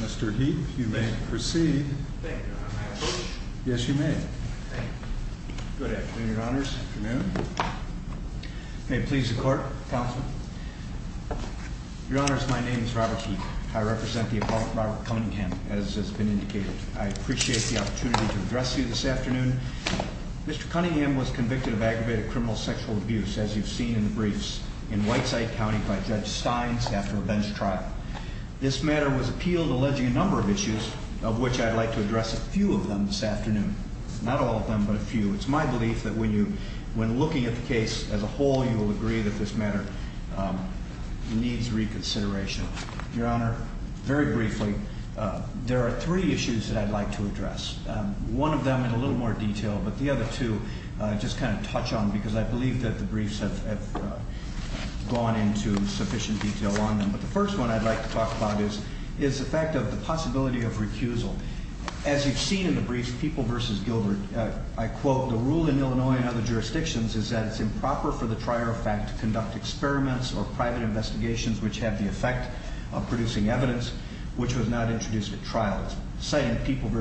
Mr. Heap, you may proceed. Yes, you may. Good afternoon, Your Honors. May it please the Court, Counsel. Your Honors, my name is Robert Heap. I represent the Apollo Robert Cunningham, as has been indicated. I appreciate the opportunity to address you this afternoon. Mr. Cunningham was convicted of aggravated criminal sexual abuse, as you've seen in the briefs, in Whiteside County by Judge Steins after a bench trial. This matter was appealed alleging a number of issues, of which I'd like to address a few of them this afternoon. Not all of them, but a few. It's my belief that when looking at the case as a whole, you will agree that this matter needs reconsideration. Your Honor, very briefly, there are three issues that I'd like to address. One of them in a little more detail, but the other two I'll just kind of touch on because I believe that the briefs have gone into sufficient detail on them. But the first one I'd like to talk about is the fact of the possibility of recusal. As you've seen in the briefs, People v. Gilbert, I quote, The rule in Illinois and other jurisdictions is that it's improper for the trier of fact to conduct experiments or private investigations which have the effect of producing evidence which was not introduced at trial. Citing People v.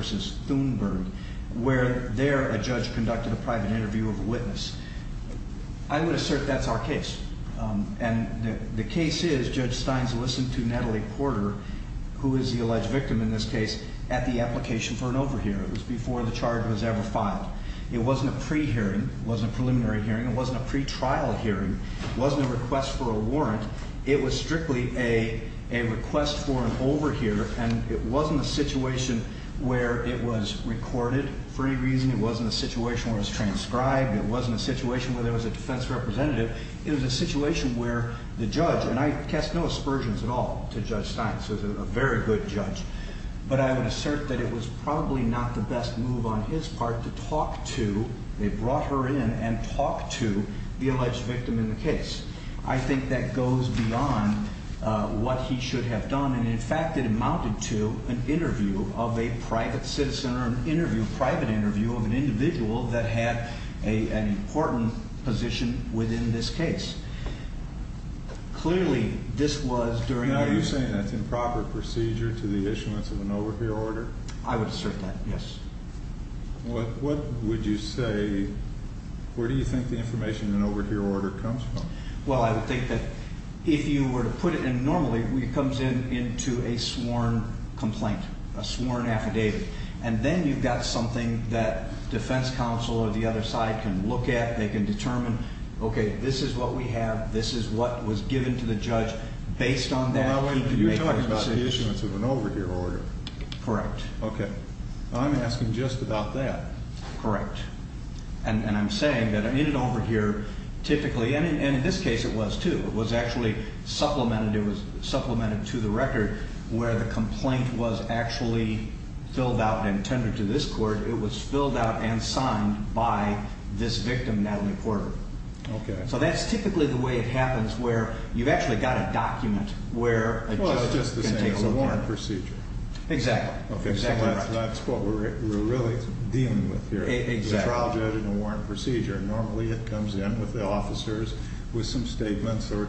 Thunberg, where there a judge conducted a private interview of a witness. And the case is Judge Stein's listened to Natalie Porter, who is the alleged victim in this case, at the application for an overhear. It was before the charge was ever filed. It wasn't a pre-hearing. It wasn't a preliminary hearing. It wasn't a pre-trial hearing. It wasn't a request for a warrant. It was strictly a request for an overhear, and it wasn't a situation where it was recorded for any reason. It wasn't a situation where it was transcribed. It wasn't a situation where there was a defense representative. It was a situation where the judge, and I cast no aspersions at all to Judge Stein. She was a very good judge. But I would assert that it was probably not the best move on his part to talk to, they brought her in, and talk to the alleged victim in the case. I think that goes beyond what he should have done. And, in fact, it amounted to an interview of a private citizen, or an interview, a private interview of an individual that had an important position within this case. Clearly, this was during the... Now, are you saying that's improper procedure to the issuance of an overhear order? I would assert that, yes. What would you say, where do you think the information in an overhear order comes from? Well, I would think that if you were to put it in normally, it comes in into a sworn complaint, a sworn affidavit. And then you've got something that defense counsel or the other side can look at. They can determine, okay, this is what we have. This is what was given to the judge. Based on that, he can make those decisions. You're talking about the issuance of an overhear order. Correct. Okay. I'm asking just about that. Correct. And I'm saying that in an overhear, typically, and in this case it was, too. It was actually supplemented. It was supplemented to the record where the complaint was actually filled out and tended to this court. It was filled out and signed by this victim, Natalie Porter. Okay. So that's typically the way it happens where you've actually got a document where a judge can take a warrant. Well, it's just the same as a warrant procedure. Exactly. Exactly right. That's what we're really dealing with here. Exactly. A trial, judge, and a warrant procedure. Normally, it comes in with the officers with some statements or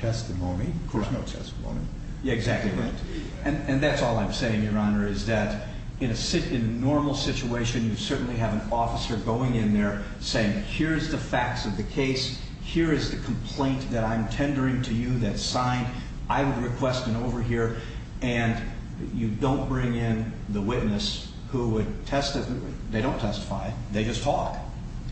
testimony. Of course, no testimony. Exactly right. And that's all I'm saying, Your Honor, is that in a normal situation, you certainly have an officer going in there saying, here's the facts of the case. Here is the complaint that I'm tendering to you that's signed. I would request an overhear. And you don't bring in the witness who would testify. They don't testify. They just talk.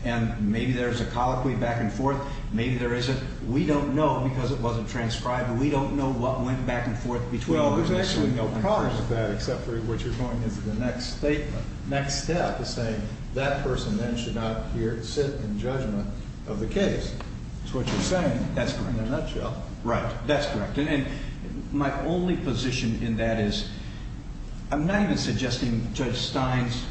And maybe there's a colloquy back and forth. Maybe there isn't. We don't know because it wasn't transcribed. We don't know what went back and forth between the officer and the person. Well, there's actually no problem with that except for what you're going into the next statement, next step is saying that person then should not sit in judgment of the case. That's what you're saying. That's correct. In a nutshell. Right. That's correct. And my only position in that is I'm not even suggesting Judge Steins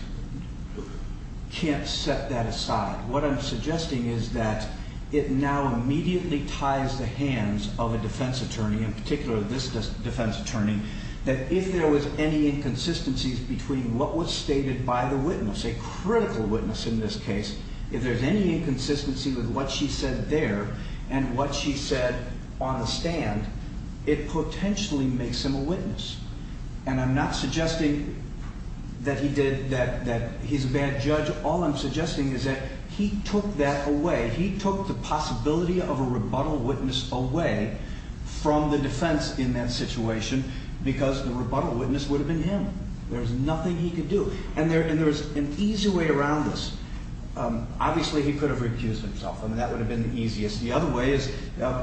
can't set that aside. What I'm suggesting is that it now immediately ties the hands of a defense attorney, in particular this defense attorney, that if there was any inconsistencies between what was stated by the witness, a critical witness in this case, if there's any inconsistency with what she said there and what she said on the stand, it potentially makes him a witness. And I'm not suggesting that he's a bad judge. All I'm suggesting is that he took that away. He took the possibility of a rebuttal witness away from the defense in that situation because the rebuttal witness would have been him. There was nothing he could do. And there's an easy way around this. Obviously, he could have recused himself. I mean, that would have been the easiest. The other way is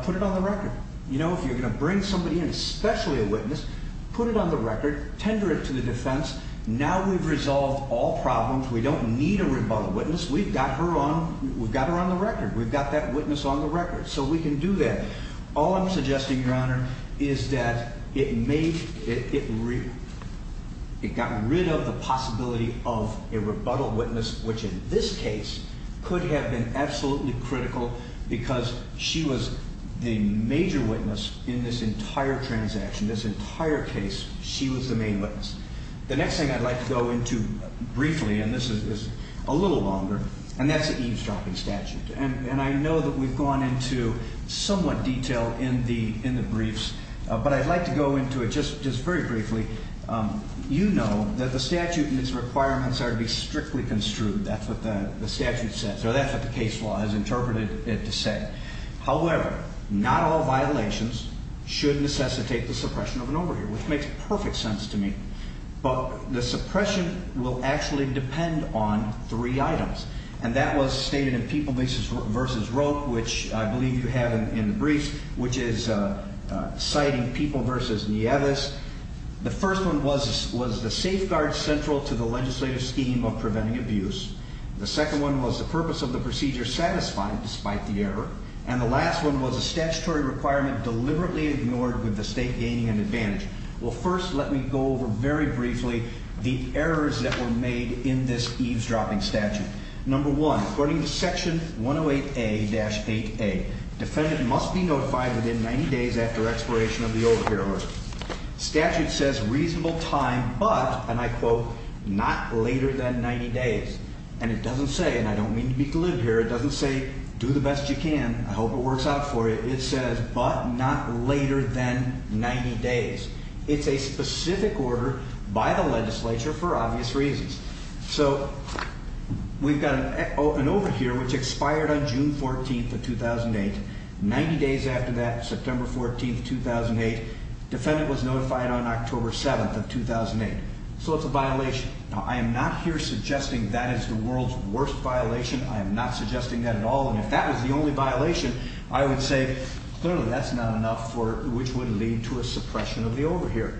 put it on the record. You know, if you're going to bring somebody in, especially a witness, put it on the record. Tender it to the defense. Now we've resolved all problems. We don't need a rebuttal witness. We've got her on the record. We've got that witness on the record. So we can do that. All I'm suggesting, Your Honor, is that it got rid of the possibility of a rebuttal witness, which in this case could have been absolutely critical because she was the major witness in this entire transaction, this entire case. She was the main witness. The next thing I'd like to go into briefly, and this is a little longer, and that's the eavesdropping statute. And I know that we've gone into somewhat detail in the briefs, but I'd like to go into it just very briefly. You know that the statute and its requirements are to be strictly construed. That's what the statute says, or that's what the case law has interpreted it to say. However, not all violations should necessitate the suppression of an overhear, which makes perfect sense to me. But the suppression will actually depend on three items, and that was stated in People v. Rope, which I believe you have in the briefs, which is citing People v. Nieves. The first one was the safeguard central to the legislative scheme of preventing abuse. The second one was the purpose of the procedure satisfied despite the error. And the last one was a statutory requirement deliberately ignored with the state gaining an advantage. Well, first let me go over very briefly the errors that were made in this eavesdropping statute. Number one, according to Section 108A-8A, defendant must be notified within 90 days after expiration of the overhear order. Statute says reasonable time, but, and I quote, not later than 90 days. And it doesn't say, and I don't mean to be glib here, it doesn't say do the best you can. I hope it works out for you. It says, but not later than 90 days. It's a specific order by the legislature for obvious reasons. So we've got an overhear which expired on June 14th of 2008. 90 days after that, September 14th, 2008, defendant was notified on October 7th of 2008. So it's a violation. Now, I am not here suggesting that is the world's worst violation. I am not suggesting that at all, and if that was the only violation, I would say clearly that's not enough for which would lead to a suppression of the overhear.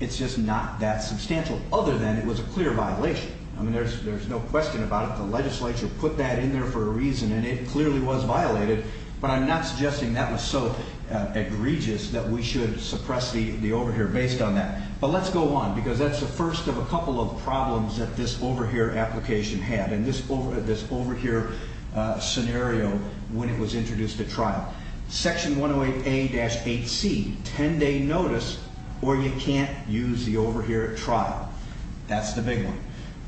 It's just not that substantial, other than it was a clear violation. I mean, there's no question about it. The legislature put that in there for a reason, and it clearly was violated. But I'm not suggesting that was so egregious that we should suppress the overhear based on that. But let's go on, because that's the first of a couple of problems that this overhear application had, Section 108A-8C, 10-day notice, or you can't use the overhear at trial. That's the big one.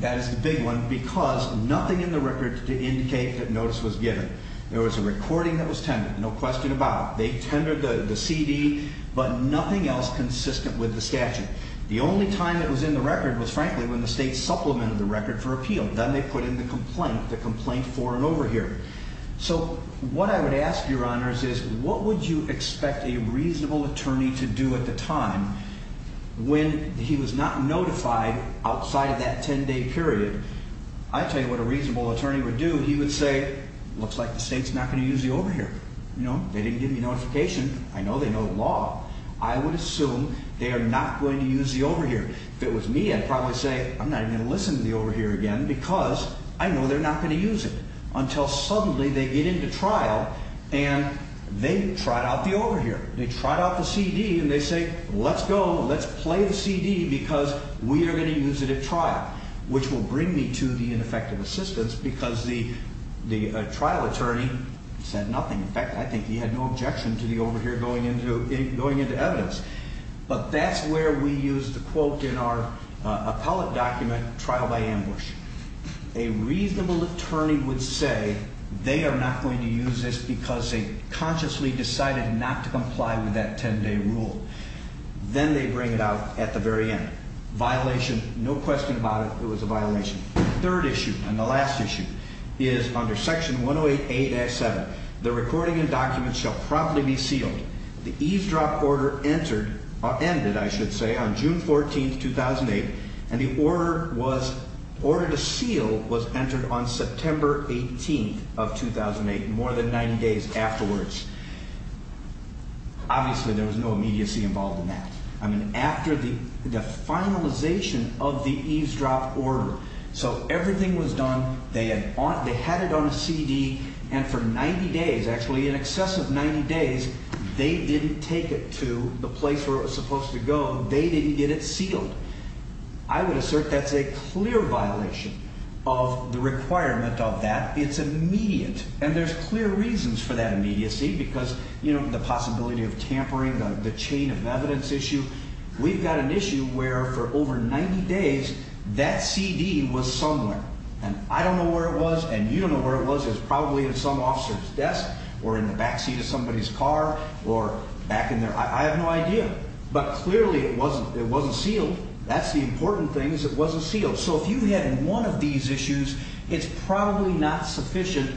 That is the big one because nothing in the record to indicate that notice was given. There was a recording that was tended, no question about it. They tendered the CD, but nothing else consistent with the statute. The only time it was in the record was, frankly, when the state supplemented the record for appeal. Then they put in the complaint, the complaint for an overhear. So what I would ask, Your Honors, is what would you expect a reasonable attorney to do at the time when he was not notified outside of that 10-day period? I'll tell you what a reasonable attorney would do. He would say, looks like the state's not going to use the overhear. They didn't give me notification. I know they know the law. I would assume they are not going to use the overhear. If it was me, I'd probably say, I'm not even going to listen to the overhear again because I know they're not going to use it until suddenly they get into trial and they trot out the overhear. They trot out the CD and they say, let's go, let's play the CD because we are going to use it at trial, which will bring me to the ineffective assistance because the trial attorney said nothing. In fact, I think he had no objection to the overhear going into evidence. But that's where we use the quote in our appellate document, trial by ambush. A reasonable attorney would say they are not going to use this because they consciously decided not to comply with that 10-day rule. Then they bring it out at the very end. Violation, no question about it, it was a violation. The third issue and the last issue is under Section 108.8.7. The recording and documents shall promptly be sealed. The eavesdrop order ended on June 14, 2008, and the order to seal was entered on September 18, 2008, more than 90 days afterwards. Obviously, there was no immediacy involved in that. After the finalization of the eavesdrop order, so everything was done, they had it on a CD, and for 90 days, actually in excess of 90 days, they didn't take it to the place where it was supposed to go. They didn't get it sealed. I would assert that's a clear violation of the requirement of that. It's immediate, and there's clear reasons for that immediacy because, you know, the possibility of tampering, the chain of evidence issue. We've got an issue where for over 90 days, that CD was somewhere. And I don't know where it was, and you don't know where it was. It was probably at some officer's desk or in the backseat of somebody's car or back in their, I have no idea. But clearly, it wasn't sealed. That's the important thing is it wasn't sealed. So if you had one of these issues, it's probably not sufficient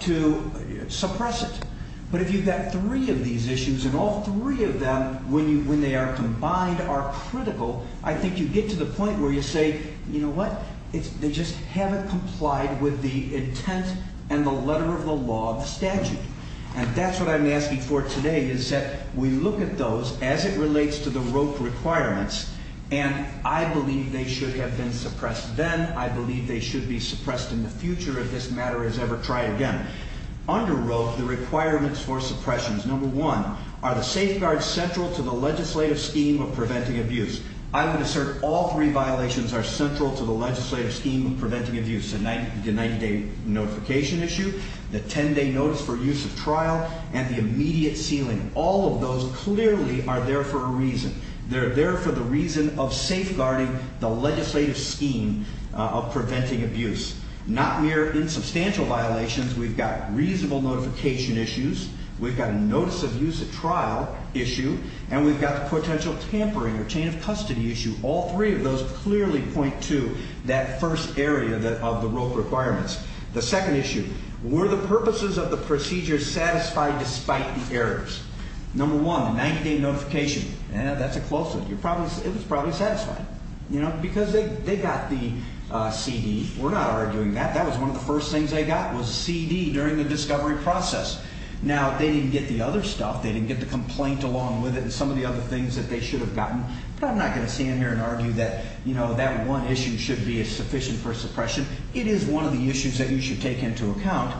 to suppress it. But if you've got three of these issues, and all three of them, when they are combined, are critical, I think you get to the point where you say, you know what? They just haven't complied with the intent and the letter of the law of the statute. And that's what I'm asking for today is that we look at those as it relates to the ROPE requirements, and I believe they should have been suppressed then. I believe they should be suppressed in the future if this matter is ever tried again. Under ROPE, the requirements for suppressions, number one, are the safeguards central to the legislative scheme of preventing abuse. I would assert all three violations are central to the legislative scheme of preventing abuse, the 90-day notification issue, the 10-day notice for use of trial, and the immediate sealing. All of those clearly are there for a reason. They're there for the reason of safeguarding the legislative scheme of preventing abuse, not mere insubstantial violations. We've got reasonable notification issues. We've got a notice of use of trial issue, and we've got the potential tampering or chain of custody issue. All three of those clearly point to that first area of the ROPE requirements. The second issue, were the purposes of the procedure satisfied despite the errors? Number one, the 90-day notification, that's a close one. It was probably satisfied, you know, because they got the CD. We're not arguing that. That was one of the first things they got was a CD during the discovery process. Now, they didn't get the other stuff. They didn't get the complaint along with it and some of the other things that they should have gotten. But I'm not going to stand here and argue that, you know, that one issue should be sufficient for suppression. It is one of the issues that you should take into account.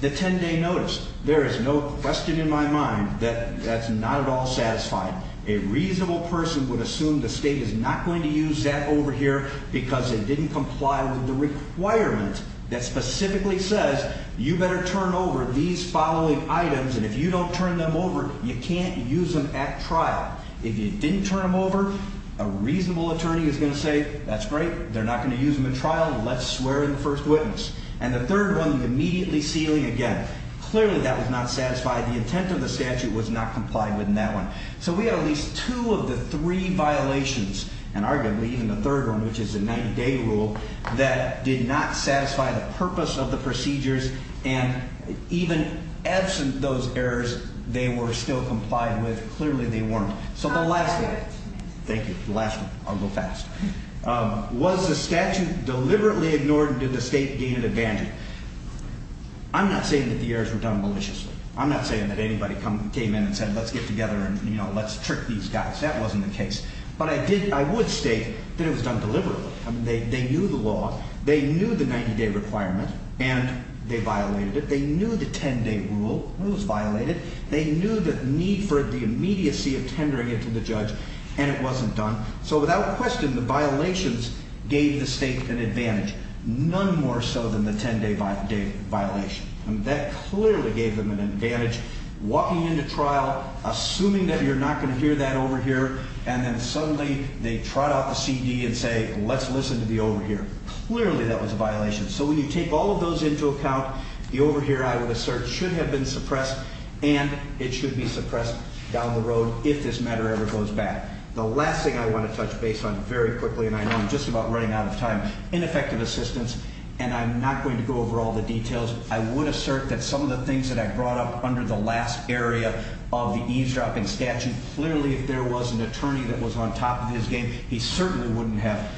The 10-day notice, there is no question in my mind that that's not at all satisfied. A reasonable person would assume the state is not going to use that over here because it didn't comply with the requirement that specifically says you better turn over these following items. And if you don't turn them over, you can't use them at trial. If you didn't turn them over, a reasonable attorney is going to say, that's great. They're not going to use them in trial. Let's swear in the first witness. And the third one, immediately sealing again. Clearly, that was not satisfied. The intent of the statute was not complied with in that one. So we have at least two of the three violations, and arguably even the third one, which is the 90-day rule, that did not satisfy the purpose of the procedures. And even absent those errors, they were still complied with. Clearly, they weren't. So the last one. Thank you. The last one. I'll go fast. Was the statute deliberately ignored and did the state gain an advantage? I'm not saying that the errors were done maliciously. I'm not saying that anybody came in and said, let's get together and let's trick these guys. That wasn't the case. But I would state that it was done deliberately. They knew the law. They knew the 90-day requirement, and they violated it. They knew the 10-day rule. It was violated. They knew the need for the immediacy of tendering it to the judge, and it wasn't done. So without question, the violations gave the state an advantage, none more so than the 10-day violation. And that clearly gave them an advantage, walking into trial, assuming that you're not going to hear that over here, and then suddenly they trot out the CD and say, let's listen to the overhear. Clearly that was a violation. So when you take all of those into account, the overhear, I would assert, should have been suppressed, and it should be suppressed down the road if this matter ever goes back. The last thing I want to touch base on very quickly, and I know I'm just about running out of time, ineffective assistance, and I'm not going to go over all the details. I would assert that some of the things that I brought up under the last area of the eavesdropping statute, clearly if there was an attorney that was on top of his game, he certainly wouldn't have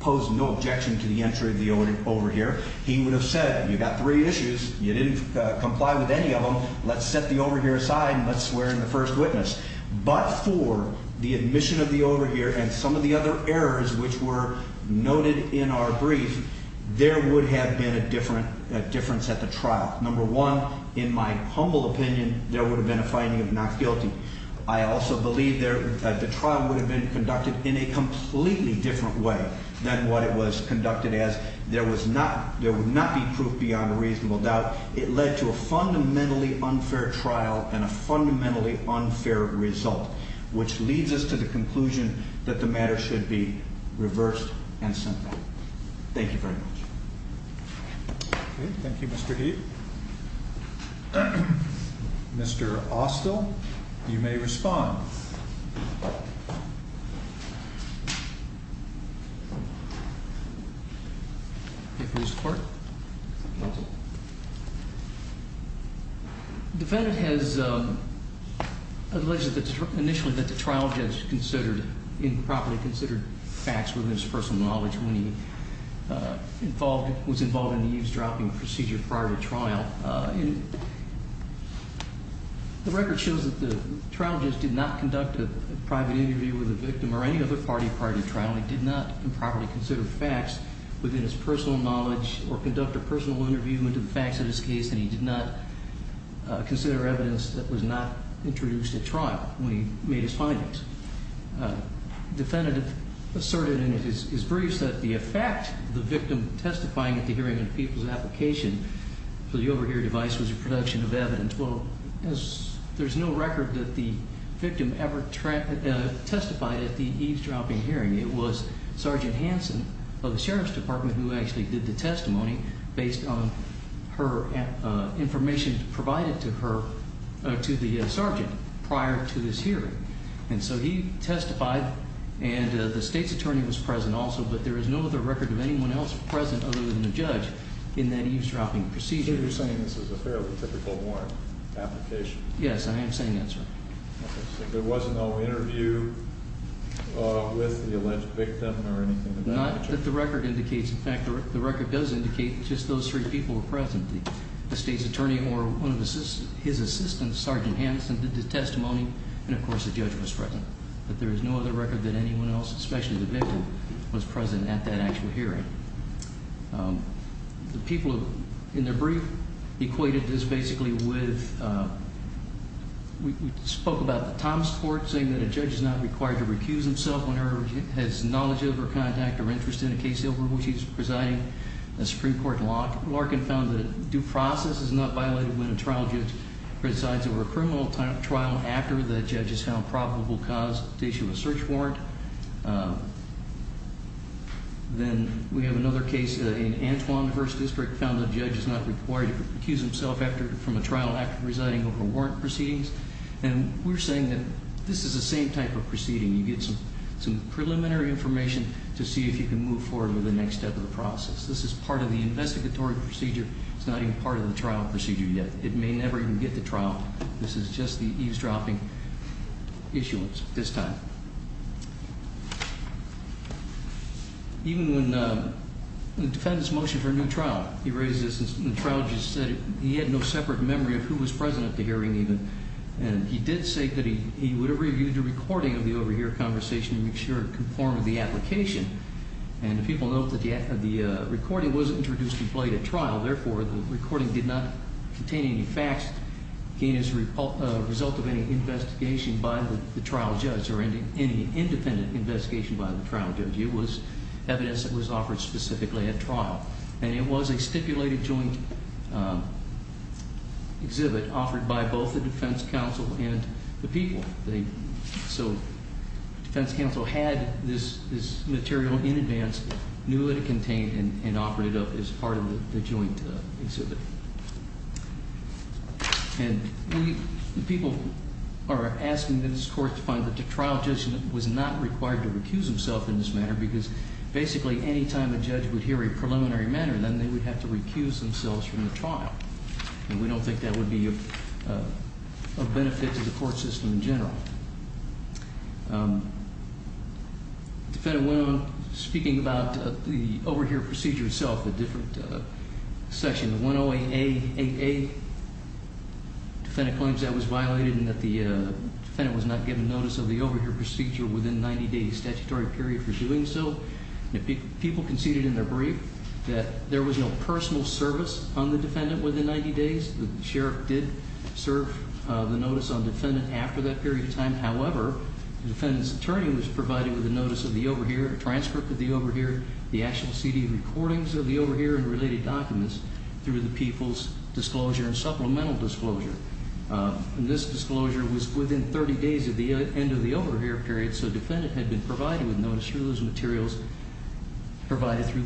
posed no objection to the entry of the overhear. He would have said, you've got three issues. You didn't comply with any of them. Let's set the overhear aside and let's swear in the first witness. But for the admission of the overhear and some of the other errors which were noted in our brief, there would have been a difference at the trial. Number one, in my humble opinion, there would have been a finding of not guilty. I also believe the trial would have been conducted in a completely different way than what it was conducted as. There would not be proof beyond a reasonable doubt. It led to a fundamentally unfair trial and a fundamentally unfair result, which leads us to the conclusion that the matter should be reversed and sent back. Thank you very much. Thank you, Mr. Heath. Mr. Austell, you may respond. Defendant has alleged initially that the trial judge considered improperly considered facts within his personal knowledge when he was involved in the eavesdropping procedure prior to trial. The record shows that the trial judge did not conduct a private interview with a victim or any other party prior to trial. He did not improperly consider facts within his personal knowledge or conduct a personal interview into the facts of his case, and he did not consider evidence that was not introduced at trial when he made his findings. Defendant asserted in his briefs that the effect of the victim testifying at the hearing and people's application for the overhearing device was a production of evidence. Well, there's no record that the victim ever testified at the eavesdropping hearing. It was Sergeant Hanson of the Sheriff's Department who actually did the testimony based on her information provided to her, to the sergeant prior to this hearing. And so he testified, and the state's attorney was present also, but there is no other record of anyone else present other than the judge in that eavesdropping procedure. So you're saying this was a fairly typical warrant application? Yes, I am saying that, sir. There was no interview with the alleged victim or anything of that nature? Not that the record indicates. In fact, the record does indicate just those three people were present, the state's attorney or one of his assistants, Sergeant Hanson, did the testimony, and of course the judge was present. But there is no other record that anyone else, especially the victim, was present at that actual hearing. The people in their brief equated this basically with, we spoke about the Thomas Court saying that a judge is not required to recuse himself whenever he has knowledge of or contact or interest in a case over which he's presiding. The Supreme Court in Larkin found that due process is not violated when a trial judge presides over a criminal trial after the judge has found probable cause to issue a search warrant. Then we have another case in Antwan, the first district, found that a judge is not required to recuse himself from a trial after presiding over warrant proceedings. And we're saying that this is the same type of proceeding. You get some preliminary information to see if you can move forward with the next step of the process. This is part of the investigatory procedure. It's not even part of the trial procedure yet. It may never even get to trial. This is just the eavesdropping issuance at this time. Even when the defendants motioned for a new trial, the trial judge said he had no separate memory of who was present at the hearing even. And he did say that he would have reviewed the recording of the overhear conversation to make sure it conformed with the application. And the people note that the recording was introduced and played at trial. Therefore, the recording did not contain any facts. Again, as a result of any investigation by the trial judge or any independent investigation by the trial judge, it was evidence that was offered specifically at trial. And it was a stipulated joint exhibit offered by both the defense counsel and the people. So the defense counsel had this material in advance, knew that it contained, and operated it as part of the joint exhibit. And people are asking this court to find that the trial judge was not required to recuse himself in this manner. Because basically, anytime a judge would hear a preliminary matter, then they would have to recuse themselves from the trial. And we don't think that would be a benefit to the court system in general. The defendant went on speaking about the overhear procedure itself, a different section. The 108A, 8A, defendant claims that was violated and that the defendant was not given notice of the overhear procedure within 90 days. Statutory period for doing so. People conceded in their brief that there was no personal service on the defendant within 90 days. The sheriff did serve the notice on defendant after that period of time. However, the defendant's attorney was provided with a notice of the overhear, a transcript of the overhear, the actual CD recordings of the overhear and related documents through the people's disclosure and supplemental disclosure. And this disclosure was within 30 days of the end of the overhear period. So the defendant had been provided with notice through those materials provided through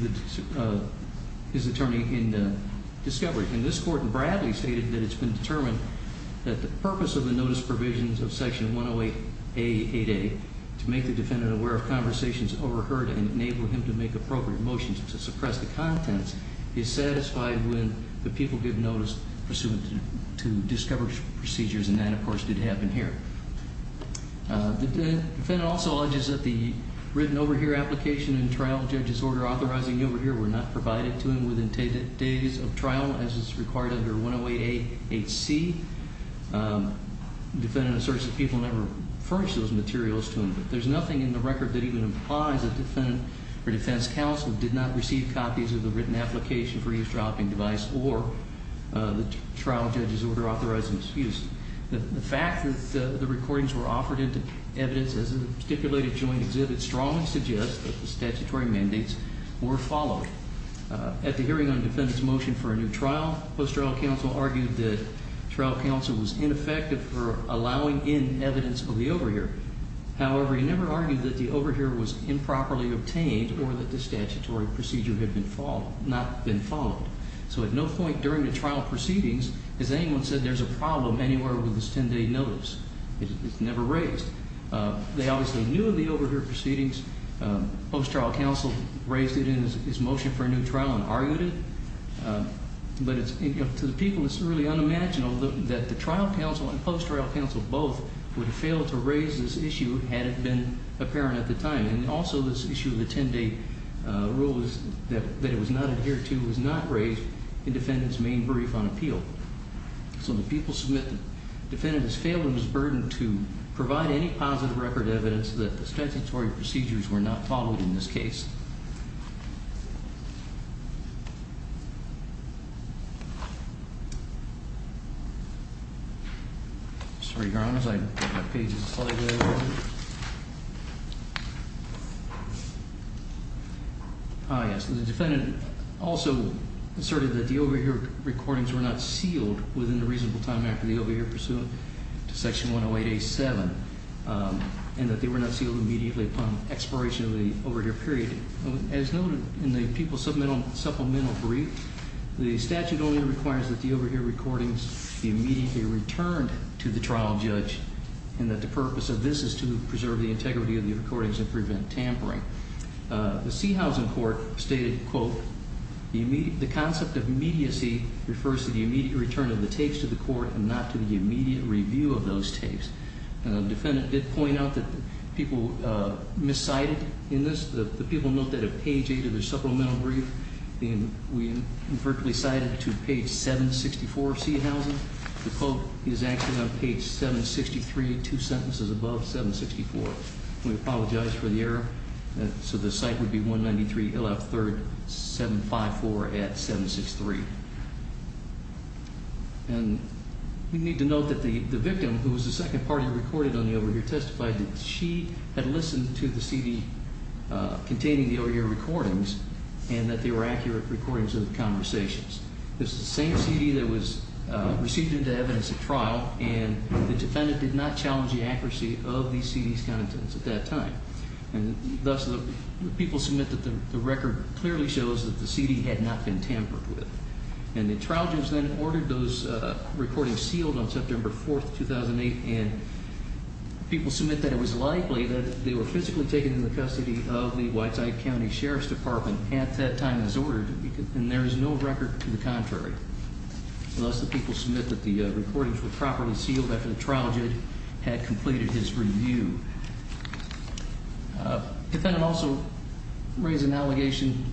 his attorney in discovery. And this court in Bradley stated that it's been determined that the purpose of the notice provisions of section 108A, 8A, to make the defendant aware of conversations overheard and enable him to make appropriate motions to suppress the contents, is satisfied when the people give notice pursuant to discovery procedures. And that, of course, did happen here. The defendant also alleges that the written overhear application and trial judge's order authorizing the overhear were not provided to him within days of trial as is required under 108A, 8C. The defendant asserts that people never furnished those materials to him. But there's nothing in the record that even implies that the defendant or defense counsel did not receive copies of the written application for eavesdropping device or the trial judge's order authorizing its use. The fact that the recordings were offered into evidence as a stipulated joint exhibit strongly suggests that the statutory mandates were followed. At the hearing on the defendant's motion for a new trial, post-trial counsel argued that trial counsel was ineffective for allowing in evidence of the overhear. However, he never argued that the overhear was improperly obtained or that the statutory procedure had not been followed. So at no point during the trial proceedings has anyone said there's a problem anywhere with this 10-day notice. It's never raised. They obviously knew of the overhear proceedings. Post-trial counsel raised it in his motion for a new trial and argued it. But to the people, it's really unimaginable that the trial counsel and post-trial counsel both would have failed to raise this issue had it been apparent at the time. And also this issue of the 10-day rule that it was not adhered to was not raised in defendant's main brief on appeal. So the people submit that the defendant has failed in his burden to provide any positive record evidence that the statutory procedures were not followed in this case. Sorry, Your Honors, my page is slightly over. Yes, the defendant also asserted that the overhear recordings were not sealed within a reasonable time after the overhear pursuant to Section 108A7. And that they were not sealed immediately upon expiration of the overhear period. As noted in the people's supplemental brief, the statute only requires that the overhear recordings be immediately returned to the trial judge. And that the purpose of this is to preserve the integrity of the recordings and prevent tampering. The Sehausen Court stated, quote, the concept of immediacy refers to the immediate return of the tapes to the court and not to the immediate review of those tapes. And the defendant did point out that people miscited in this. The people note that at page eight of the supplemental brief, we invertedly cited to page 764 of Sehausen. The quote is actually on page 763, two sentences above 764. We apologize for the error. So the cite would be 193 LF 3rd 754 at 763. And we need to note that the victim, who was the second party recorded on the overhear, testified that she had listened to the CD containing the overhear recordings. And that they were accurate recordings of the conversations. This is the same CD that was received into evidence at trial. And the defendant did not challenge the accuracy of the CD's contents at that time. And thus the people submit that the record clearly shows that the CD had not been tampered with. And the trial judge then ordered those recordings sealed on September 4th, 2008. And people submit that it was likely that they were physically taken into the custody of the Whiteside County Sheriff's Department at that time as ordered. And there is no record to the contrary. Thus the people submit that the recordings were properly sealed after the trial judge had completed his review. The defendant also raised an allegation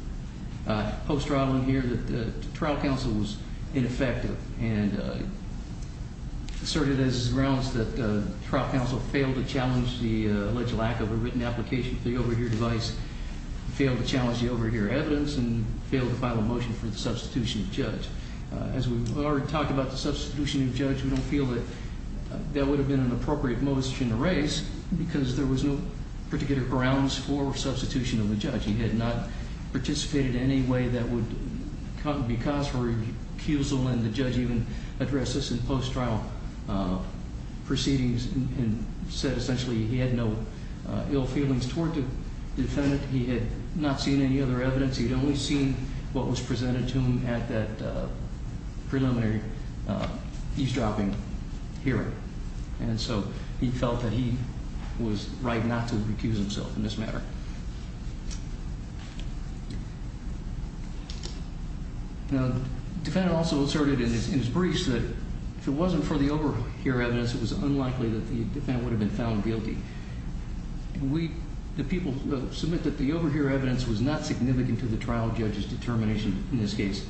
post-trial in here that the trial counsel was ineffective. And asserted as his grounds that the trial counsel failed to challenge the alleged lack of a written application for the overhear device. Failed to challenge the overhear evidence. And failed to file a motion for the substitution of judge. As we've already talked about the substitution of judge. We don't feel that that would have been an appropriate motion to raise. Because there was no particular grounds for substitution of the judge. He had not participated in any way that would be cause for recusal. And the judge even addressed this in post-trial proceedings. And said essentially he had no ill feelings toward the defendant. He had not seen any other evidence. He had only seen what was presented to him at that preliminary eavesdropping hearing. And so he felt that he was right not to recuse himself in this matter. Now the defendant also asserted in his briefs that if it wasn't for the overhear evidence. It was unlikely that the defendant would have been found guilty. The people submit that the overhear evidence was not significant to the trial judge's determination in this case.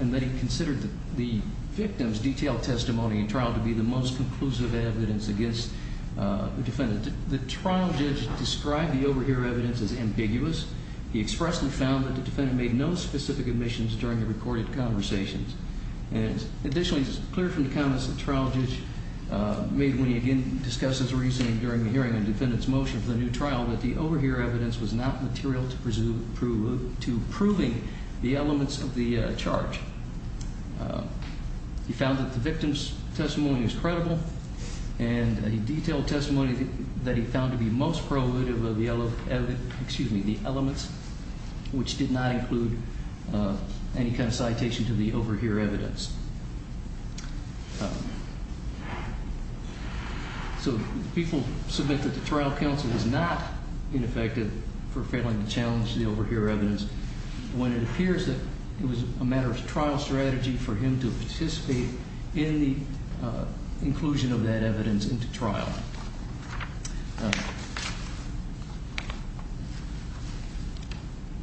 And that he considered the victim's detailed testimony in trial to be the most conclusive evidence against the defendant. The trial judge described the overhear evidence as ambiguous. He expressly found that the defendant made no specific admissions during the recorded conversations. And additionally, it's clear from the comments that the trial judge made when he again discussed his reasoning during the hearing of the defendant's motion for the new trial. That the overhear evidence was not material to proving the elements of the charge. He found that the victim's testimony is credible. And a detailed testimony that he found to be most probative of the elements. Which did not include any kind of citation to the overhear evidence. So people submit that the trial counsel is not ineffective for failing to challenge the overhear evidence. When it appears that it was a matter of trial strategy for him to participate in the inclusion of that evidence into trial.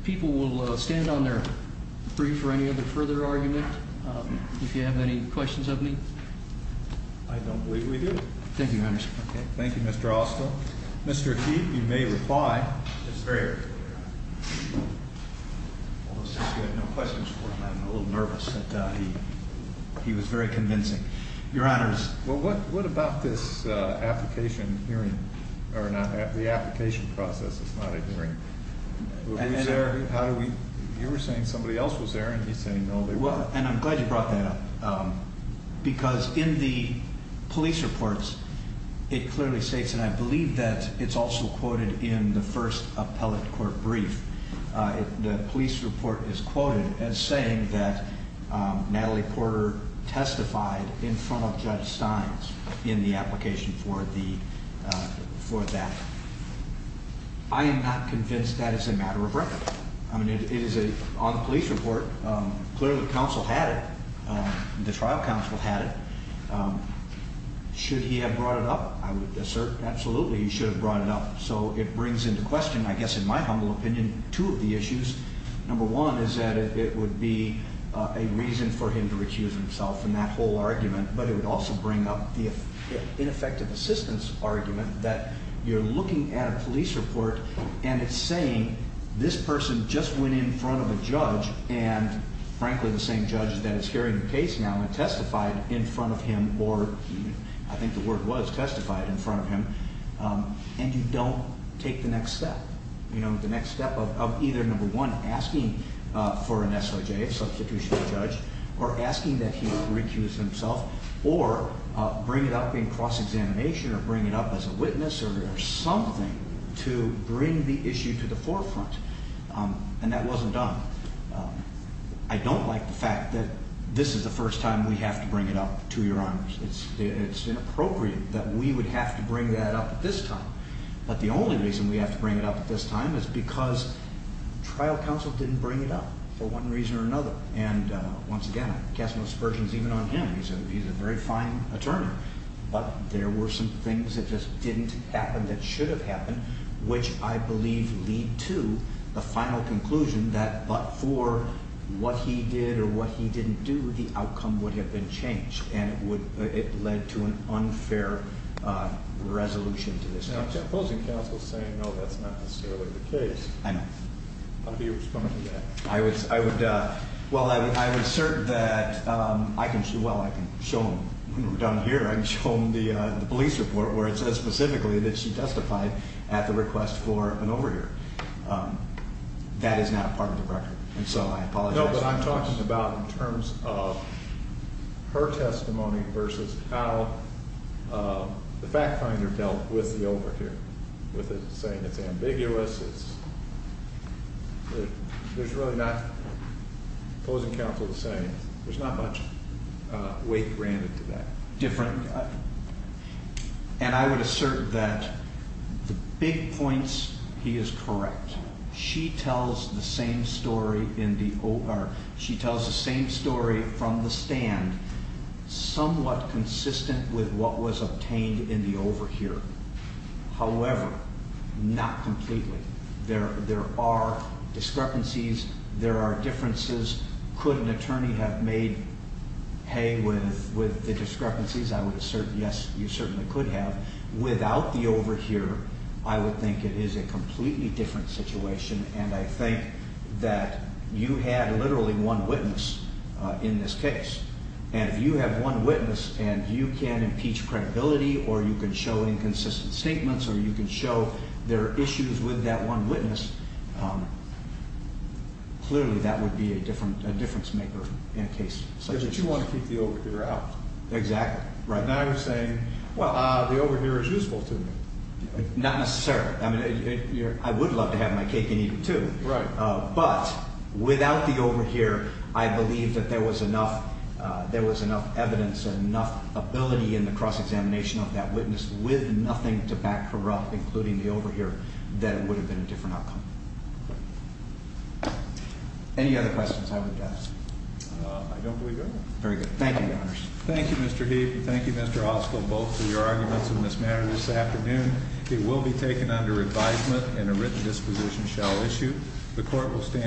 People will stand on their brief for any other further argument. If you have any questions of me. I don't believe we do. Thank you, Your Honor. Thank you, Mr. Austell. Mr. Keefe, you may reply. It's very early for you, Your Honor. You had no questions for him. I'm a little nervous. He was very convincing. Your Honor, what about this application hearing? The application process is not a hearing. You were saying somebody else was there and he's saying no. And I'm glad you brought that up. Because in the police reports, it clearly states, and I believe that it's also quoted in the first appellate court brief. The police report is quoted as saying that Natalie Porter testified in front of Judge Steins in the application for that. I am not convinced that is a matter of record. On the police report, clearly the trial counsel had it. Should he have brought it up? I would assert absolutely he should have brought it up. So it brings into question, I guess in my humble opinion, two of the issues. Number one is that it would be a reason for him to recuse himself from that whole argument, but it would also bring up the ineffective assistance argument that you're looking at a police report and it's saying this person just went in front of a judge and, frankly, the same judge that is carrying the case now testified in front of him or I think the word was testified in front of him. And you don't take the next step. The next step of either, number one, asking for an SOJ, a substitutional judge, or asking that he recuse himself or bring it up in cross-examination or bring it up as a witness or something to bring the issue to the forefront. And that wasn't done. I don't like the fact that this is the first time we have to bring it up to your honors. It's inappropriate that we would have to bring that up at this time. But the only reason we have to bring it up at this time is because trial counsel didn't bring it up for one reason or another. And, once again, I cast no subversions even on him. He's a very fine attorney. But there were some things that just didn't happen that should have happened, which I believe lead to the final conclusion that but for what he did or what he didn't do, the outcome would have been changed, and it led to an unfair resolution to this case. Now, opposing counsel saying, no, that's not necessarily the case. I know. How do you respond to that? Well, I would assert that I can show him down here. I can show him the police report where it says specifically that she testified at the request for an overhear. No, but I'm talking about in terms of her testimony versus how the fact finder dealt with the overhear, with it saying it's ambiguous, there's really not, opposing counsel is saying, there's not much weight granted to that. Different, and I would assert that the big points, he is correct. She tells the same story from the stand somewhat consistent with what was obtained in the overhear. However, not completely. There are discrepancies. There are differences. Could an attorney have made hay with the discrepancies? I would assert, yes, you certainly could have. Without the overhear, I would think it is a completely different situation, and I think that you had literally one witness in this case, and if you have one witness and you can impeach credibility or you can show inconsistent statements or you can show there are issues with that one witness, clearly that would be a difference maker in a case such as this. Because you want to keep the overhear out. Exactly. Now you're saying, well, the overhear is useful to me. Not necessarily. I would love to have my cake and eat it, too. Right. But without the overhear, I believe that there was enough evidence and enough ability in the cross-examination of that witness with nothing to back her up, including the overhear, that it would have been a different outcome. Any other questions I would ask? Very good. Thank you, Your Honors. Thank you, Mr. Heath, and thank you, Mr. Ossoff, both for your arguments in this matter this afternoon. It will be taken under advisement and a written disposition shall issue. The court will stand.